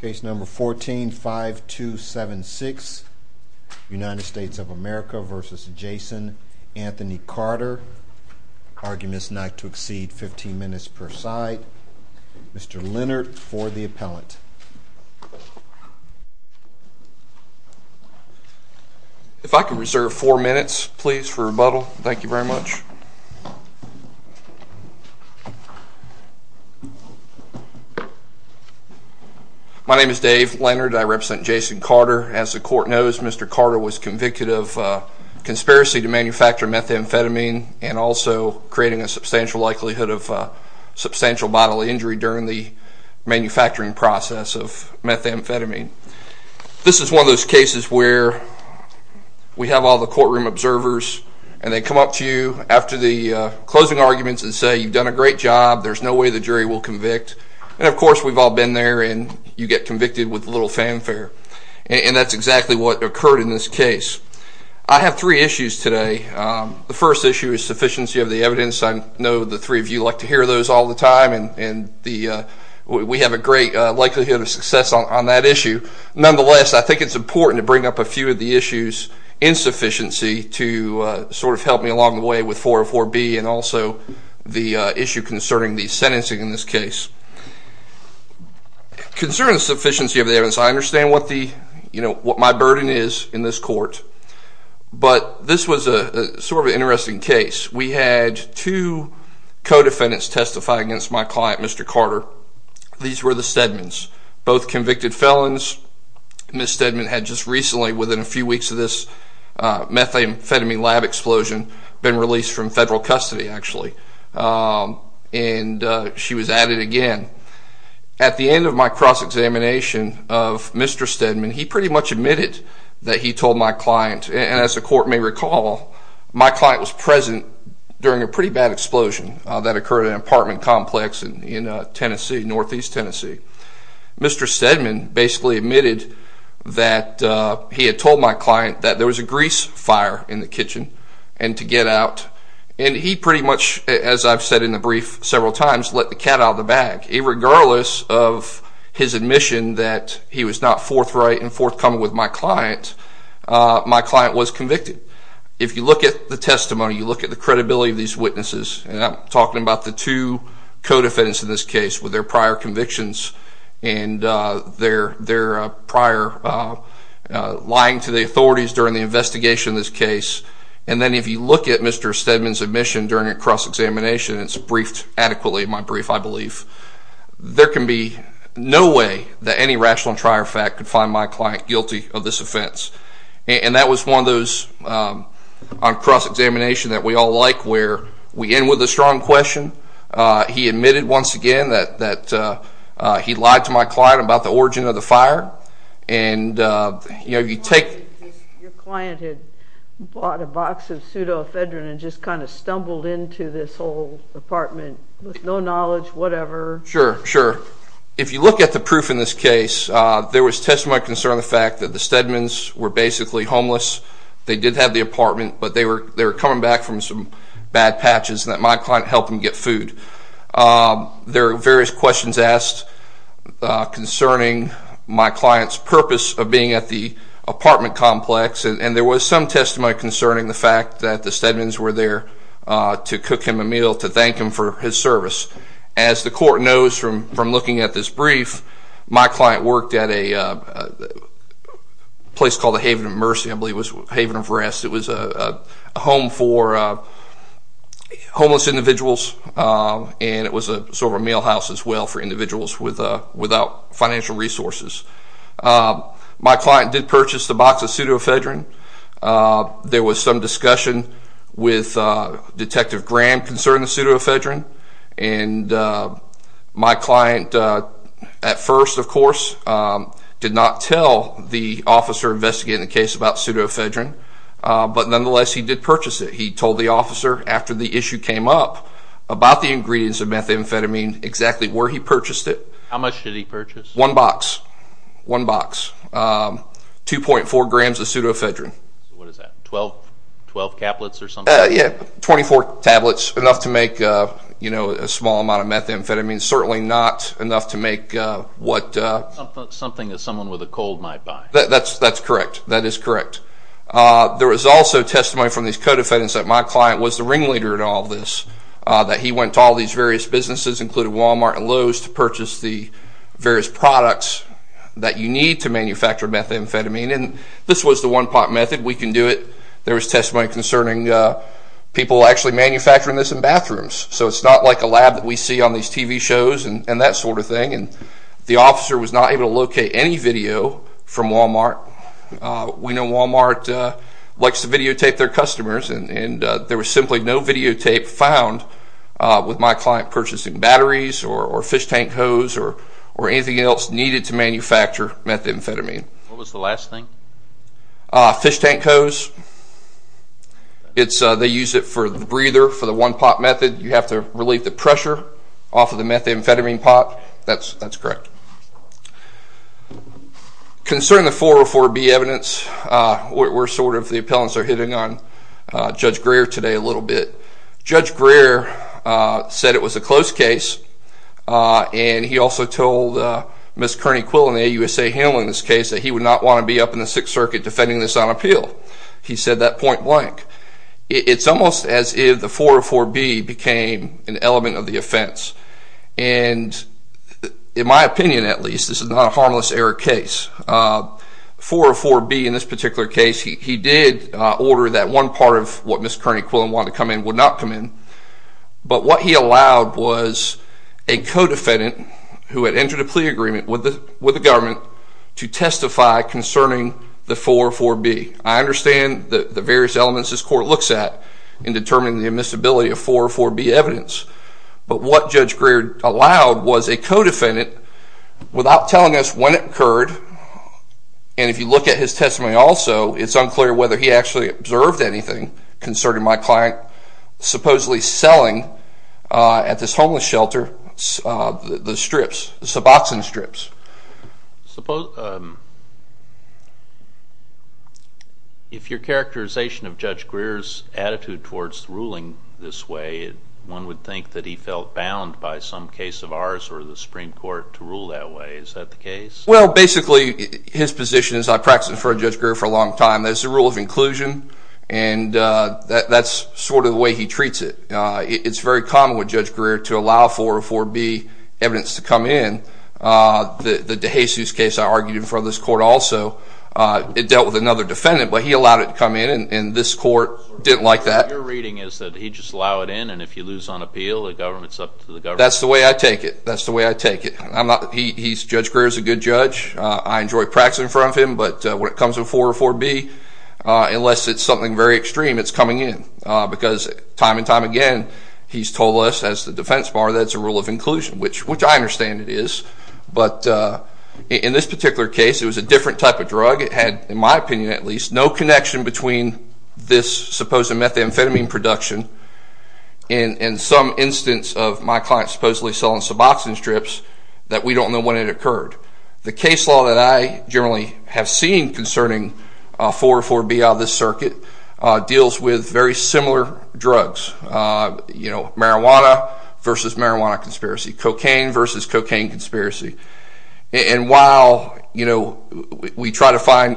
Case number 14-5276, United States of America v. Jason Anthony Carter, arguments not to exceed 15 minutes per side. Mr. Leonard for the appellant. If I could reserve four minutes please for rebuttal. Thank you very much. My name is Dave Leonard. I represent Jason Carter. As the court knows, Mr. Carter was convicted of conspiracy to manufacture methamphetamine and also creating a substantial likelihood of substantial bodily injury during the manufacturing process of methamphetamine. This is one of those cases where we have all the courtroom observers and they come up to you after the closing arguments and say you've done a great job, there's no way the jury will convict. And of course we've all been there and you get convicted with a little fanfare. And that's exactly what occurred in this case. I have three issues today. The first issue is sufficiency of the evidence. I know the three of you like to hear those all the time and we have a great likelihood of success on that issue. Nonetheless, I think it's important to bring up a few of the issues in sufficiency to sort of help me along the way with 404B and also the issue concerning the sentencing in this case. Concerning the sufficiency of the evidence, I understand what my burden is in this court, but this was sort of an interesting case. We had two co-defendants testify against my client, Mr. Carter. These were the Stedmans. Both convicted felons. Ms. Stedman had just recently, within a few weeks of this methamphetamine lab explosion, been released from federal custody actually. And she was at it again. At the end of my cross-examination of Mr. Stedman, he pretty much admitted that he told my client, and as the court may recall, my client was present during a pretty bad explosion that occurred at an apartment complex in Tennessee, northeast Tennessee. Mr. Stedman basically admitted that he had told my client that there was a grease fire in the kitchen and to get out. And he pretty much, as I've said in the brief several times, let the cat out of the bag. Regardless of his admission that he was not forthright and forthcoming with my client, my client was convicted. If you look at the testimony, you look at the credibility of these witnesses, and I'm talking about the two co-defendants in this case with their prior convictions and their prior lying to the authorities during the investigation of this case. And then if you look at Mr. Stedman's admission during a cross-examination, it's briefed adequately in my brief, I believe, there can be no way that any rational and trier fact could find my client guilty of this offense. And that was one of those on cross-examination that we all like where we end with a strong question. He admitted once again that he lied to my client about the origin of the fire. Your client had bought a box of pseudoephedrine and just kind of stumbled into this whole apartment with no knowledge, whatever. Sure, sure. If you look at the proof in this case, there was testimony concerning the fact that the Stedmans were basically homeless. They did have the apartment, but they were coming back from some bad patches and that my client helped them get food. There are various questions asked concerning my client's purpose of being at the apartment complex, and there was some testimony concerning the fact that the Stedmans were there to cook him a meal to thank him for his service. As the court knows from looking at this brief, my client worked at a place called the Haven of Mercy, I believe it was, Haven of Rest. It was a home for homeless individuals, and it was sort of a meal house as well for individuals without financial resources. My client did purchase the box of pseudoephedrine. There was some discussion with Detective Graham concerning the pseudoephedrine, and my client at first, of course, did not tell the officer investigating the case about pseudoephedrine, but nonetheless he did purchase it. He told the officer after the issue came up about the ingredients of methamphetamine exactly where he purchased it. How much did he purchase? One box. One box. 2.4 grams of pseudoephedrine. What is that, 12 tablets or something? Yeah, 24 tablets, enough to make a small amount of methamphetamine, certainly not enough to make what... Something that someone with a cold might buy. That's correct. That is correct. There was also testimony from these co-defendants that my client was the ringleader in all this, that he went to all these various businesses, including Walmart and Lowe's, to purchase the various products that you need to manufacture methamphetamine, and this was the one-pot method. We can do it. There was testimony concerning people actually manufacturing this in bathrooms, so it's not like a lab that we see on these TV shows and that sort of thing, and the officer was not able to locate any video from Walmart. We know Walmart likes to videotape their customers, and there was simply no videotape found with my client purchasing batteries or fish tank hose or anything else needed to manufacture methamphetamine. What was the last thing? Fish tank hose. They use it for the breather for the one-pot method. You have to relieve the pressure off of the methamphetamine pot. That's correct. Concerning the 404B evidence, we're sort of, the appellants are hitting on Judge Greer today a little bit. Judge Greer said it was a close case, and he also told Ms. Kearney Quill in the AUSA handling this case that he would not want to be up in the Sixth Circuit defending this on appeal. He said that point blank. It's almost as if the 404B became an element of the offense. In my opinion, at least, this is not a harmless error case. 404B in this particular case, he did order that one part of what Ms. Kearney Quill wanted to come in would not come in, but what he allowed was a co-defendant who had entered a plea agreement with the government to testify concerning the 404B. I understand the various elements this court looks at in determining the admissibility of 404B evidence. But what Judge Greer allowed was a co-defendant without telling us when it occurred. And if you look at his testimony also, it's unclear whether he actually observed anything concerning my client supposedly selling at this homeless shelter the strips, the Suboxone strips. If your characterization of Judge Greer's attitude towards ruling this way, one would think that he felt bound by some case of ours or the Supreme Court to rule that way. Is that the case? Well, basically, his position is, I've practiced in front of Judge Greer for a long time, that it's a rule of inclusion and that's sort of the way he treats it. It's very common with Judge Greer to allow 404B evidence to come in. The DeJesus case I argued in front of this court also, it dealt with another defendant, but he allowed it to come in and this court didn't like that. Your reading is that he'd just allow it in and if you lose on appeal, the government's up to the government. That's the way I take it. That's the way I take it. Judge Greer's a good judge. I enjoy practicing in front of him, but when it comes to 404B, unless it's something very extreme, it's coming in. Because time and time again, he's told us as the defense bar that it's a rule of inclusion, which I understand it is. But in this particular case, it was a different type of drug. It had, in my opinion at least, no connection between this supposed methamphetamine production and some instance of my client supposedly selling suboxone strips that we don't know when it occurred. The case law that I generally have seen concerning 404B out of this circuit deals with very similar drugs. You know, marijuana versus marijuana conspiracy. Cocaine versus cocaine conspiracy. And while, you know, we try to find...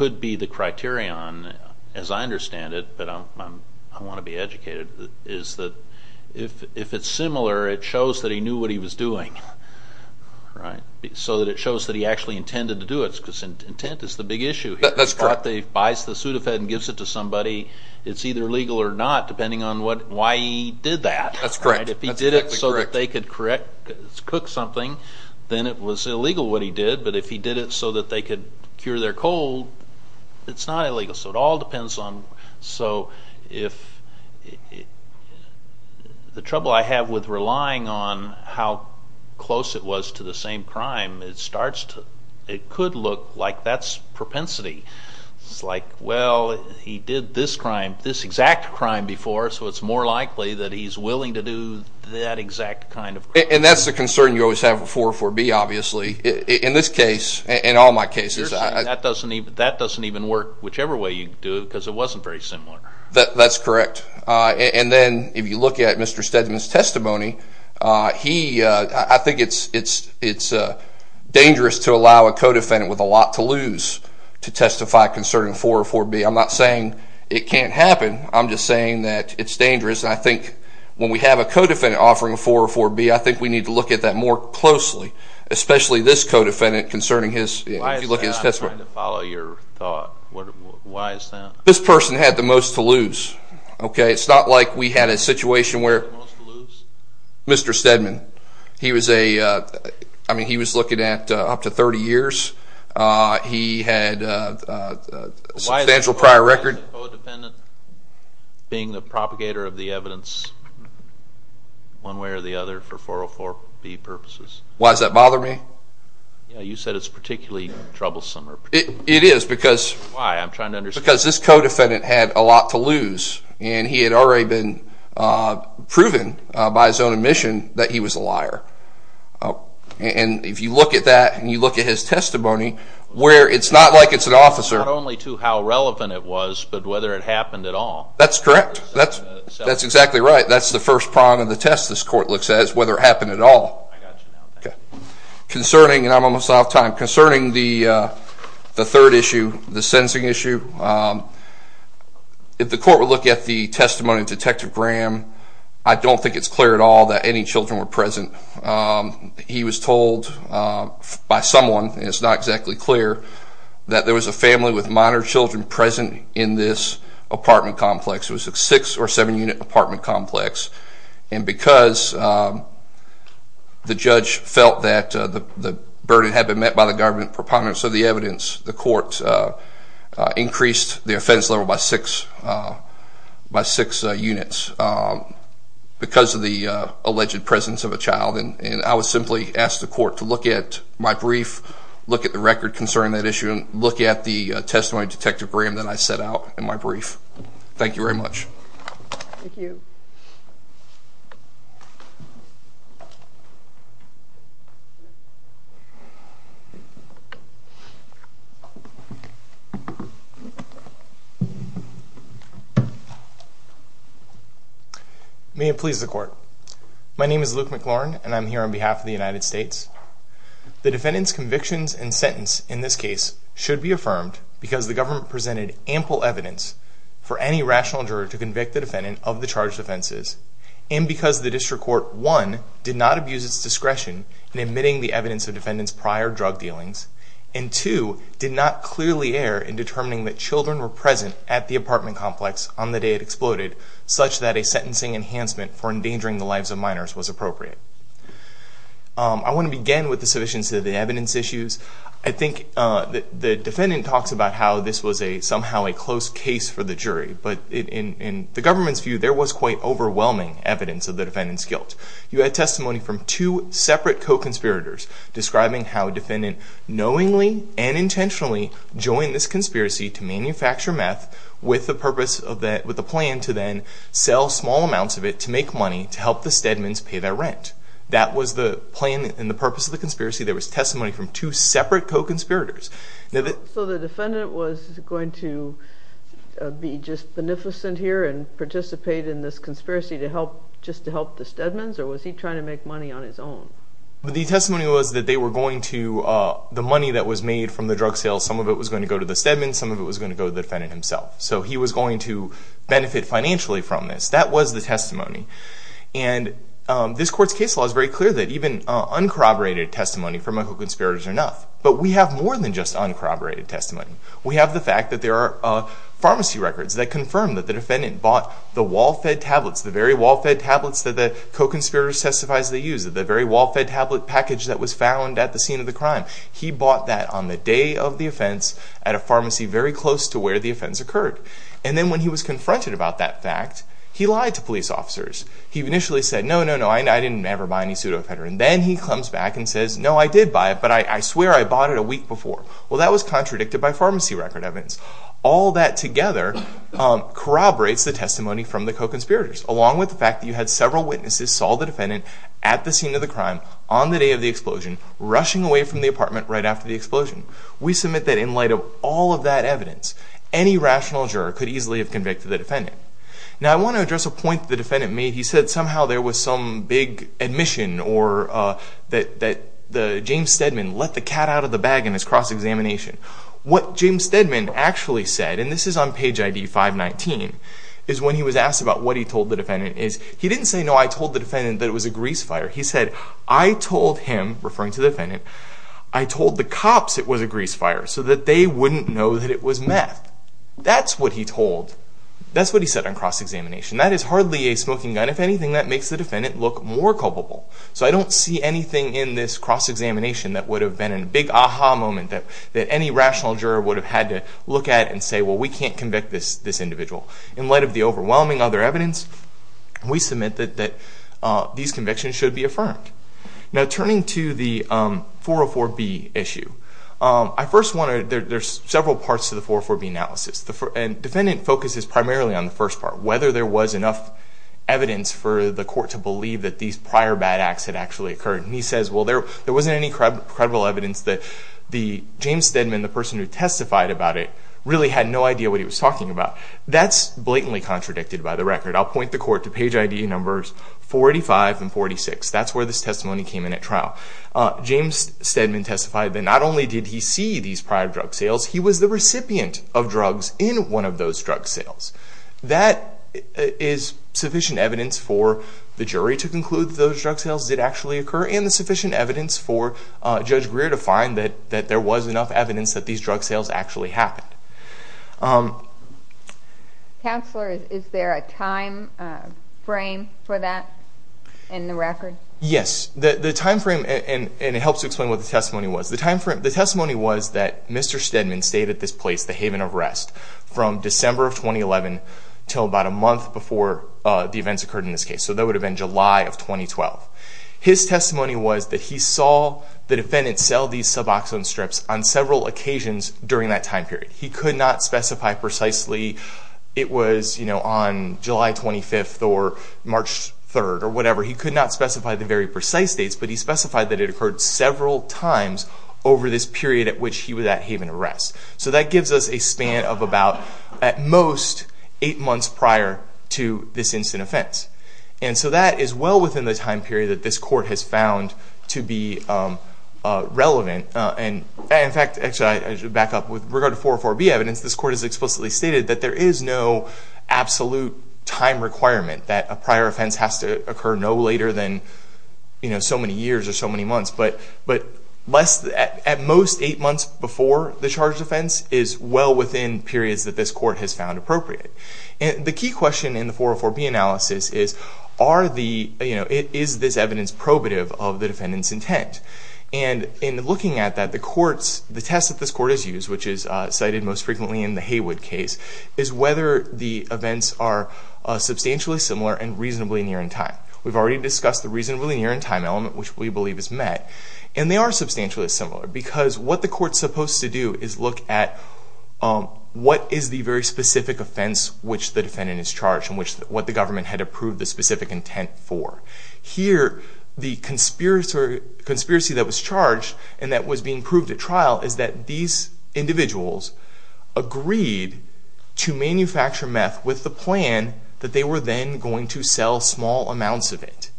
...could be the criterion, as I understand it, but I want to be educated, is that if it's similar, it shows that he knew what he was doing. So that it shows that he actually intended to do it, because intent is the big issue here. That's correct. If he thought that he buys the Sudafed and gives it to somebody, it's either legal or not, depending on why he did that. That's correct. If he did it so that they could cook something, then it was illegal what he did. But if he did it so that they could cure their cold, it's not illegal. So it all depends on... So if... The trouble I have with relying on how close it was to the same crime, it starts to... It could look like that's propensity. It's like, well, he did this crime, this exact crime before, so it's more likely that he's willing to do that exact kind of... And that's the concern you always have with 404B, obviously. In this case, in all my cases... That doesn't even work whichever way you do it, because it wasn't very similar. That's correct. And then, if you look at Mr. Stedman's testimony, he... I think it's dangerous to allow a co-defendant with a lot to lose to testify concerning 404B. I'm not saying it can't happen. I'm just saying that it's dangerous. And I think when we have a co-defendant offering 404B, I think we need to look at that more closely, especially this co-defendant concerning his... Why is that? I'm trying to follow your thought. Why is that? This person had the most to lose. It's not like we had a situation where... The most to lose? Mr. Stedman. He was a... I mean, he was looking at up to 30 years. He had a substantial prior record. Why is the co-defendant being the propagator of the evidence one way or the other for 404B purposes? Why does that bother me? You said it's particularly troublesome. It is, because... Why? I'm trying to understand. Because this co-defendant had a lot to lose. And he had already been proven by his own admission that he was a liar. And if you look at that and you look at his testimony, where it's not like it's an officer... Not only to how relevant it was, but whether it happened at all. That's correct. That's exactly right. That's the first prong of the test this court looks at is whether it happened at all. Concerning, and I'm almost out of time, concerning the third issue, the sentencing issue, if the court would look at the testimony of Detective Graham, I don't think it's clear at all that any children were present. He was told by someone, and it's not exactly clear, that there was a family with minor children present in this apartment complex. It was a six or seven unit apartment complex. And because the judge felt that the burden had been met by the government proponents of the evidence, the court increased the offense level by six units because of the alleged presence of a child. And I would simply ask the court to look at my brief, look at the record concerning that issue, and look at the testimony of Detective Graham that I set out in my brief. Thank you very much. Thank you. May it please the court. My name is Luke McLaurin, and I'm here on behalf of the United States. The defendant's convictions and sentence in this case should be affirmed because the government presented ample evidence for any rational juror to convict the defendant of the charged offenses, and because the district court, one, did not abuse its discretion in admitting the evidence of the defendant's prior drug dealings, and two, did not clearly err in determining that children were present at the apartment complex on the day it exploded, such that a sentencing enhancement for endangering the lives of minors was appropriate. I want to begin with the sufficiency of the evidence issues. I think the defendant talks about how this was somehow a close case for the jury, but in the government's view, there was quite overwhelming evidence of the defendant's guilt. You had testimony from two separate co-conspirators describing how a defendant knowingly and intentionally joined this conspiracy to manufacture meth with the purpose of the plan to then sell small amounts of it to make money to help the Stedmans pay their rent. That was the plan and the purpose of the conspiracy. There was testimony from two separate co-conspirators. So the defendant was going to be just beneficent here and participate in this conspiracy just to help the Stedmans, or was he trying to make money on his own? The testimony was that the money that was made from the drug sales, some of it was going to go to the Stedmans, some of it was going to go to the defendant himself, so he was going to benefit financially from this. That was the testimony, and this court's case law is very clear that even uncorroborated testimony from a co-conspirator is enough, but we have more than just uncorroborated testimony. We have the fact that there are pharmacy records that confirm that the defendant bought the wall-fed tablets, the very wall-fed tablets that the co-conspirators testified they used, the very wall-fed tablet package that was found at the scene of the crime. He bought that on the day of the offense at a pharmacy very close to where the offense occurred. And then when he was confronted about that fact, he lied to police officers. He initially said, no, no, no, I didn't ever buy any pseudoephedrine. Then he comes back and says, no, I did buy it, but I swear I bought it a week before. Well, that was contradicted by pharmacy record evidence. All that together corroborates the testimony from the co-conspirators, along with the fact that you had several witnesses who saw the defendant at the scene of the crime, on the day of the explosion, rushing away from the apartment right after the explosion. We submit that in light of all of that evidence, any rational juror could easily have convicted the defendant. Now, I want to address a point the defendant made. He said somehow there was some big admission or that James Stedman let the cat out of the bag in his cross-examination. What James Stedman actually said, and this is on page ID 519, is when he was asked about what he told the defendant, he didn't say, no, I told the defendant that it was a grease fire. He said, I told him, referring to the defendant, I told the cops it was a grease fire so that they wouldn't know that it was meth. That's what he told, that's what he said on cross-examination. That is hardly a smoking gun. If anything, that makes the defendant look more culpable. So I don't see anything in this cross-examination that would have been a big aha moment, that any rational juror would have had to look at and say, well, we can't convict this individual. In light of the overwhelming other evidence, we submit that these convictions should be affirmed. Now, turning to the 404B issue, I first wanted, there's several parts to the 404B analysis, and the defendant focuses primarily on the first part, whether there was enough evidence for the court to believe that these prior bad acts had actually occurred. And he says, well, there wasn't any credible evidence that the James Stedman, the person who testified about it, really had no idea what he was talking about. That's blatantly contradicted by the record. I'll point the court to page ID numbers 485 and 486. That's where this testimony came in at trial. James Stedman testified that not only did he see these prior drug sales, he was the recipient of drugs in one of those drug sales. That is sufficient evidence for the jury to conclude that those drug sales did actually occur, and sufficient evidence for Judge Greer to find that there was enough evidence that these drug sales actually happened. Counselor, is there a time frame for that in the record? Yes. The time frame, and it helps to explain what the testimony was. The testimony was that Mr. Stedman stayed at this place, the Haven of Rest, from December of 2011 until about a month before the events occurred in this case. So that would have been July of 2012. His testimony was that he saw the defendant sell these Suboxone strips on several occasions during that time period. He could not specify precisely it was on July 25th or March 3rd or whatever. He could not specify the very precise dates, but he specified that it occurred several times over this period at which he was at Haven of Rest. So that gives us a span of about, at most, eight months prior to this instant offense. And so that is well within the time period that this court has found to be relevant. In fact, I should back up. With regard to 404B evidence, this court has explicitly stated that there is no absolute time requirement, that a prior offense has to occur no later than so many years or so many months. But at most, eight months before the charged offense is well within periods that this court has found appropriate. The key question in the 404B analysis is, is this evidence probative of the defendant's intent? And in looking at that, the tests that this court has used, which is cited most frequently in the Haywood case, is whether the events are substantially similar and reasonably near in time. We've already discussed the reasonably near in time element, which we believe is met, and they are substantially similar because what the court is supposed to do is look at what is the very specific offense which the defendant is charged and what the government had approved the specific intent for. Here, the conspiracy that was charged and that was being proved at trial is that these individuals agreed to manufacture meth with the plan that they were then going to sell small amounts of it.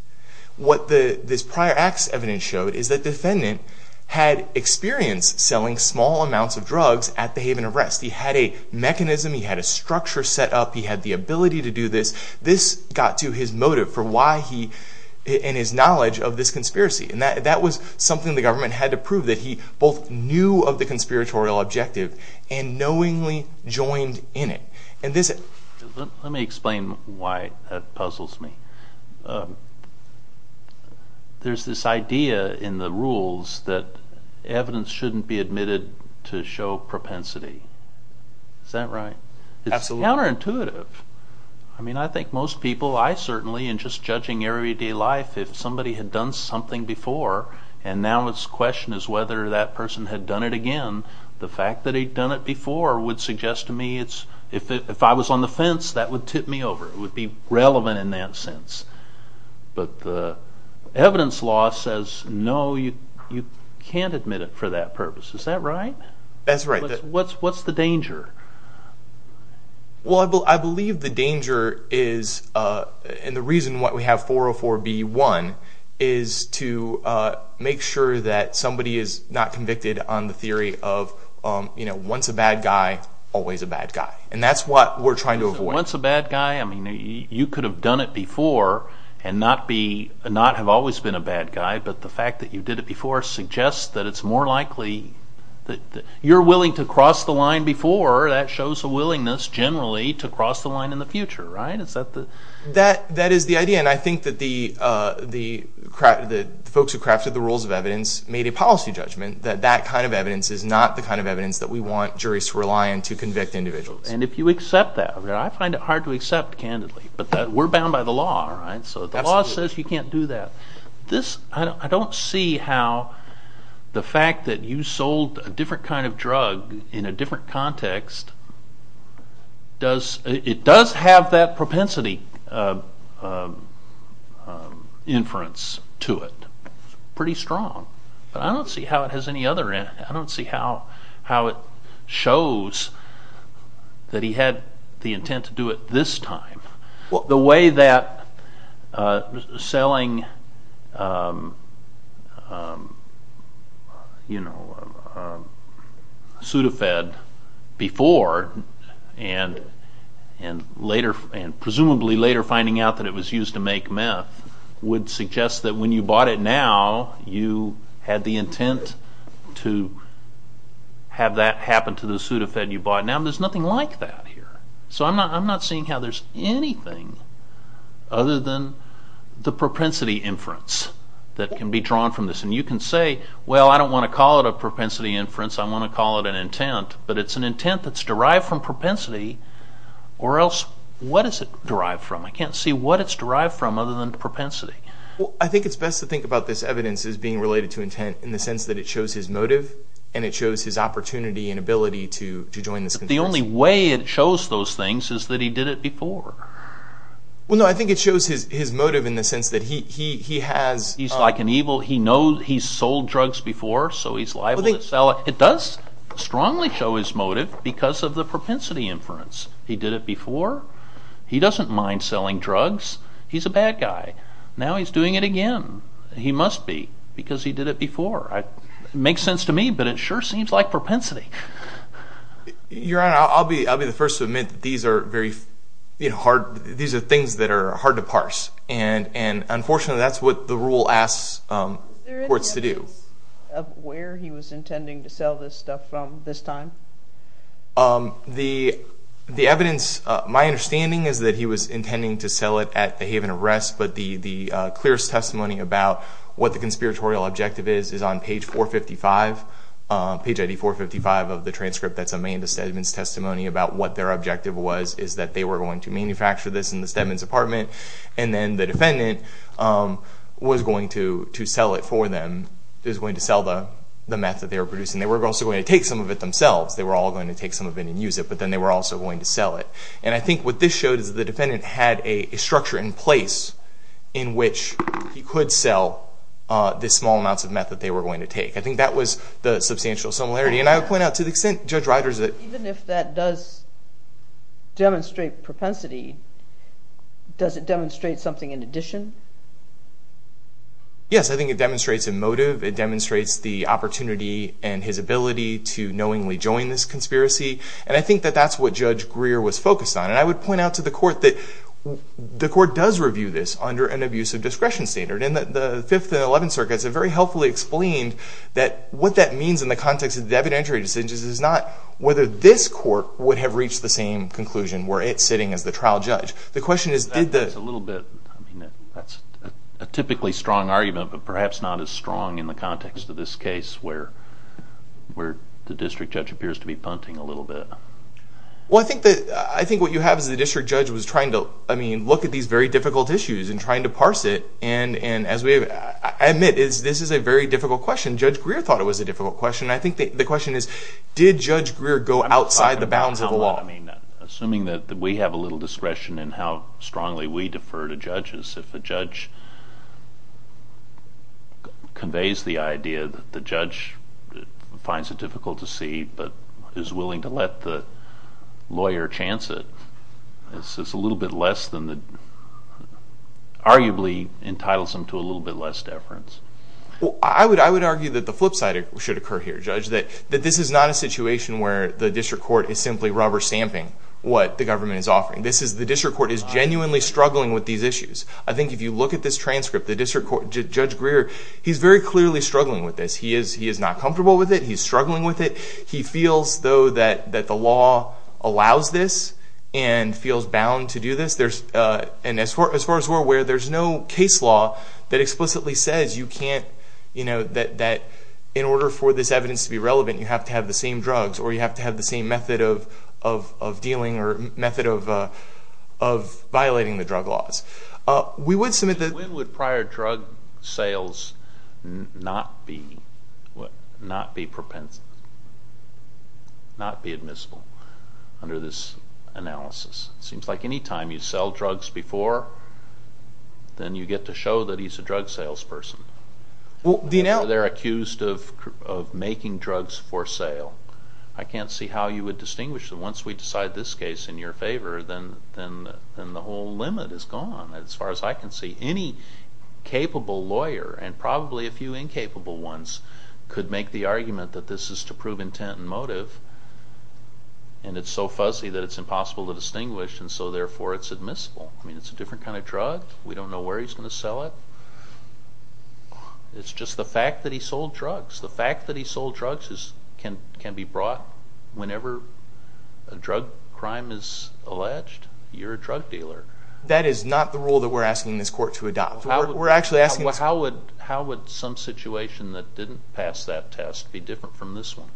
What this prior acts evidence showed is that the defendant had experience selling small amounts of drugs at the Haven arrest. He had a mechanism, he had a structure set up, he had the ability to do this. This got to his motive for why he, and his knowledge of this conspiracy. That was something the government had to prove that he both knew of the conspiratorial objective and knowingly joined in it. Let me explain why that puzzles me. There's this idea in the rules that evidence shouldn't be admitted to show propensity. Is that right? Absolutely. It's counterintuitive. I think most people, I certainly, in just judging everyday life, if somebody had done something before and now it's question is whether that person had done it again, the fact that he'd done it before would suggest to me, if I was on the fence, that would tip me over. It would be relevant in that sense. But the evidence law says no, you can't admit it for that purpose. Is that right? That's right. What's the danger? I believe the danger is, and the reason why we have 404B1, is to make sure that somebody is not convicted on the theory of once a bad guy, always a bad guy. That's what we're trying to avoid. Once a bad guy, you could have done it before and not have always been a bad guy, but the fact that you did it before suggests that it's more likely, you're willing to cross the line before, that shows a willingness, generally, to cross the line in the future, right? That is the idea, and I think that the folks who crafted the rules of evidence made a policy judgment that that kind of evidence is not the kind of evidence that we want juries to rely on to convict individuals. And if you accept that, I find it hard to accept, candidly, but we're bound by the law, right? So the law says you can't do that. I don't see how the fact that you sold a different kind of drug in a different context, it does have that propensity inference to it. It's pretty strong, but I don't see how it has any other, I don't see how it shows that he had the intent to do it this time. The way that selling Sudafed before, and presumably later finding out that it was used to make meth, would suggest that when you bought it now, you had the intent to have that happen to the Sudafed you bought now. There's nothing like that here. So I'm not seeing how there's anything other than the propensity inference that can be drawn from this. And you can say, well, I don't want to call it a propensity inference, I want to call it an intent, but it's an intent that's derived from propensity, or else what is it derived from? I can't see what it's derived from other than propensity. Well, I think it's best to think about this evidence as being related to intent in the sense that it shows his motive, and it shows his opportunity and ability to join this controversy. The only way it shows those things is that he did it before. Well, no, I think it shows his motive in the sense that he has... He's like an evil, he knows he's sold drugs before, so he's liable to sell it. It does strongly show his motive because of the propensity inference. He did it before, he doesn't mind selling drugs, he's a bad guy. Now he's doing it again. He must be, because he did it before. It makes sense to me, but it sure seems like propensity. Your Honor, I'll be the first to admit that these are things that are hard to parse, and unfortunately that's what the rule asks courts to do. Is there evidence of where he was intending to sell this stuff from this time? The evidence, my understanding is that he was intending to sell it at the Haven of Rest, but the clearest testimony about what the conspiratorial objective is, is on page 455, page ID 455 of the transcript that's in the Stedman's testimony, about what their objective was, is that they were going to manufacture this in the Stedman's apartment, and then the defendant was going to sell it for them, was going to sell the meth that they were producing. They were also going to take some of it themselves. They were all going to take some of it and use it, but then they were also going to sell it. And I think what this showed is that the defendant had a structure in place in which he could sell the small amounts of meth that they were going to take. I think that was the substantial similarity. And I would point out to the extent Judge Riders that... Even if that does demonstrate propensity, does it demonstrate something in addition? Yes, I think it demonstrates a motive. It demonstrates the opportunity and his ability to knowingly join this conspiracy, and I think that that's what Judge Greer was focused on. And I would point out to the court that the court does review this under an abusive discretion standard, and the Fifth and Eleventh Circuits have very helpfully explained that what that means in the context of the evidentiary decisions is not whether this court would have reached the same conclusion where it's sitting as the trial judge. The question is did the... That's a little bit... I mean, that's a typically strong argument, but perhaps not as strong in the context of this case where the district judge appears to be punting a little bit. Well, I think what you have is the district judge was trying to, I mean, look at these very difficult issues and trying to parse it, and as we have... I admit this is a very difficult question. Judge Greer thought it was a difficult question. I think the question is did Judge Greer go outside the bounds of the law? Assuming that we have a little discretion in how strongly we defer to judges, if a judge conveys the idea that the judge finds it difficult to see but is willing to let the lawyer chance it, is this a little bit less than the... arguably entitles him to a little bit less deference? I would argue that the flip side should occur here, Judge, that this is not a situation where the district court is simply rubber stamping what the government is offering. The district court is genuinely struggling with these issues. I think if you look at this transcript, the district court... Judge Greer, he's very clearly struggling with this. He is not comfortable with it. He's struggling with it. He feels, though, that the law allows this and feels bound to do this. And as far as we're aware, there's no case law that explicitly says you can't... that in order for this evidence to be relevant, you have to have the same drugs or you have to have the same method of dealing or method of violating the drug laws. We would submit that... sales not be propensible, not be admissible under this analysis. It seems like any time you sell drugs before, then you get to show that he's a drug salesperson. They're accused of making drugs for sale. I can't see how you would distinguish that once we decide this case in your favor, then the whole limit is gone as far as I can see. Any capable lawyer, and probably a few incapable ones, could make the argument that this is to prove intent and motive, and it's so fuzzy that it's impossible to distinguish, and so therefore it's admissible. I mean, it's a different kind of drug. We don't know where he's going to sell it. It's just the fact that he sold drugs. The fact that he sold drugs can be brought whenever a drug crime is alleged. You're a drug dealer. That is not the rule that we're asking this court to adopt. How would some situation that didn't pass that test be different from this one?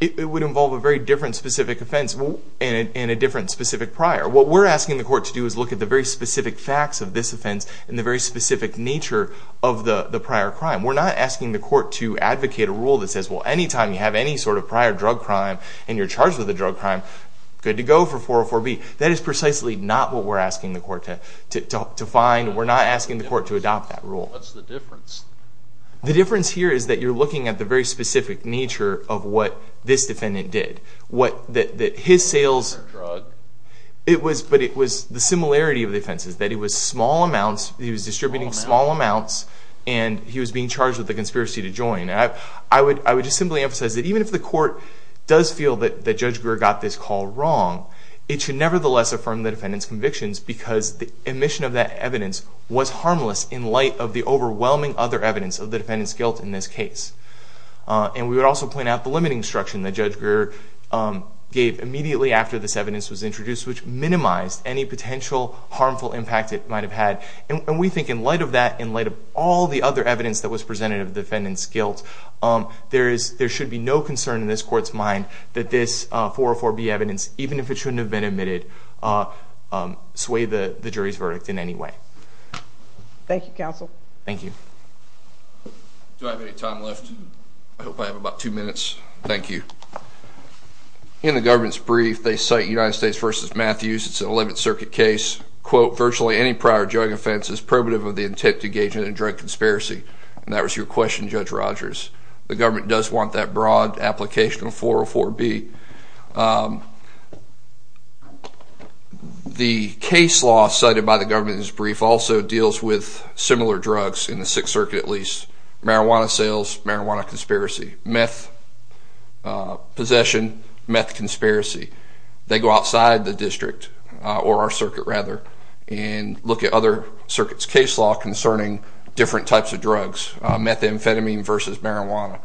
It would involve a very different specific offense and a different specific prior. What we're asking the court to do is look at the very specific facts of this offense and the very specific nature of the prior crime. We're not asking the court to advocate a rule that says, well, any time you have any sort of prior drug crime and you're charged with a drug crime, good to go for 404B. That is precisely not what we're asking the court to find. We're not asking the court to adopt that rule. What's the difference? The difference here is that you're looking at the very specific nature of what this defendant did. His sales, but it was the similarity of the offenses, that he was small amounts, he was distributing small amounts, and he was being charged with a conspiracy to join. I would just simply emphasize that even if the court does feel that Judge Greer got this call wrong, it should nevertheless affirm the defendant's convictions because the omission of that evidence was harmless in light of the overwhelming other evidence of the defendant's guilt in this case. We would also point out the limiting instruction that Judge Greer gave immediately after this evidence was introduced, which minimized any potential harmful impact it might have had. We think in light of that, in light of all the other evidence that was presented of the defendant's guilt, there should be no concern in this court's mind that this 404B evidence, even if it shouldn't have been admitted, sway the jury's verdict in any way. Thank you, counsel. Thank you. Do I have any time left? I hope I have about two minutes. Thank you. In the government's brief, they cite United States v. Matthews. It's an 11th Circuit case. Quote, virtually any prior drug offense is primitive of the intent to engage in a drug conspiracy. And that was your question, Judge Rogers. The government does want that broad application of 404B. The case law cited by the government in this brief also deals with similar drugs, in the 6th Circuit at least, marijuana sales, marijuana conspiracy, meth possession, meth conspiracy. They go outside the district, or our circuit rather, and look at other circuits' case law concerning different types of drugs, methamphetamine versus marijuana.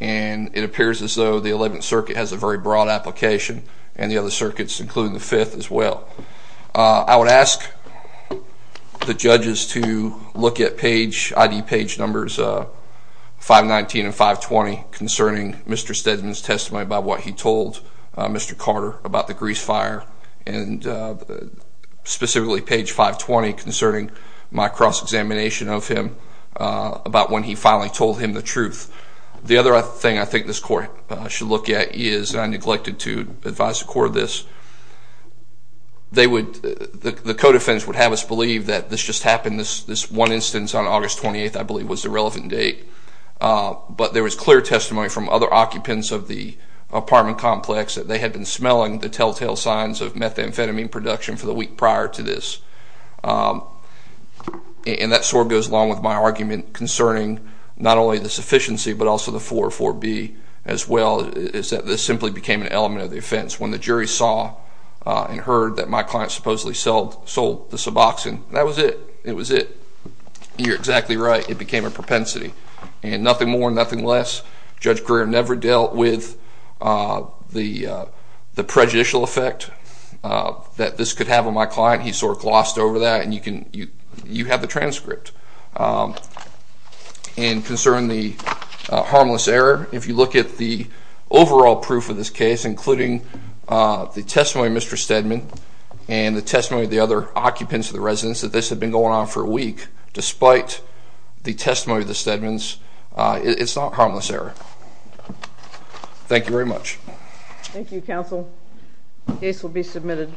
And it appears as though the 11th Circuit has a very broad application, and the other circuits, including the 5th, as well. I would ask the judges to look at page, ID page numbers 519 and 520, concerning Mr. Stedman's testimony about what he told Mr. Carter about the Grease Fire, and specifically page 520 concerning my cross-examination of him about when he finally told him the truth. The other thing I think this Court should look at is, and I neglected to advise the Court of this, the Codefense would have us believe that this just happened, this one instance on August 28th, I believe, was the relevant date. But there was clear testimony from other occupants of the apartment complex that they had been smelling the telltale signs of methamphetamine production for the week prior to this. And that sort of goes along with my argument concerning not only the sufficiency, but also the 404B as well, is that this simply became an element of the offense. When the jury saw and heard that my client supposedly sold the suboxone, that was it. It was it. You're exactly right. It became a propensity. And nothing more, nothing less. Judge Greer never dealt with the prejudicial effect that this could have on my client. He sort of glossed over that. And you have the transcript. And concerning the harmless error, if you look at the overall proof of this case, including the testimony of Mr. Stedman and the testimony of the other occupants of the residence, that this had been going on for a week, despite the testimony of the Stedmans, it's not harmless error. Thank you very much. Thank you, Counsel. Case will be submitted.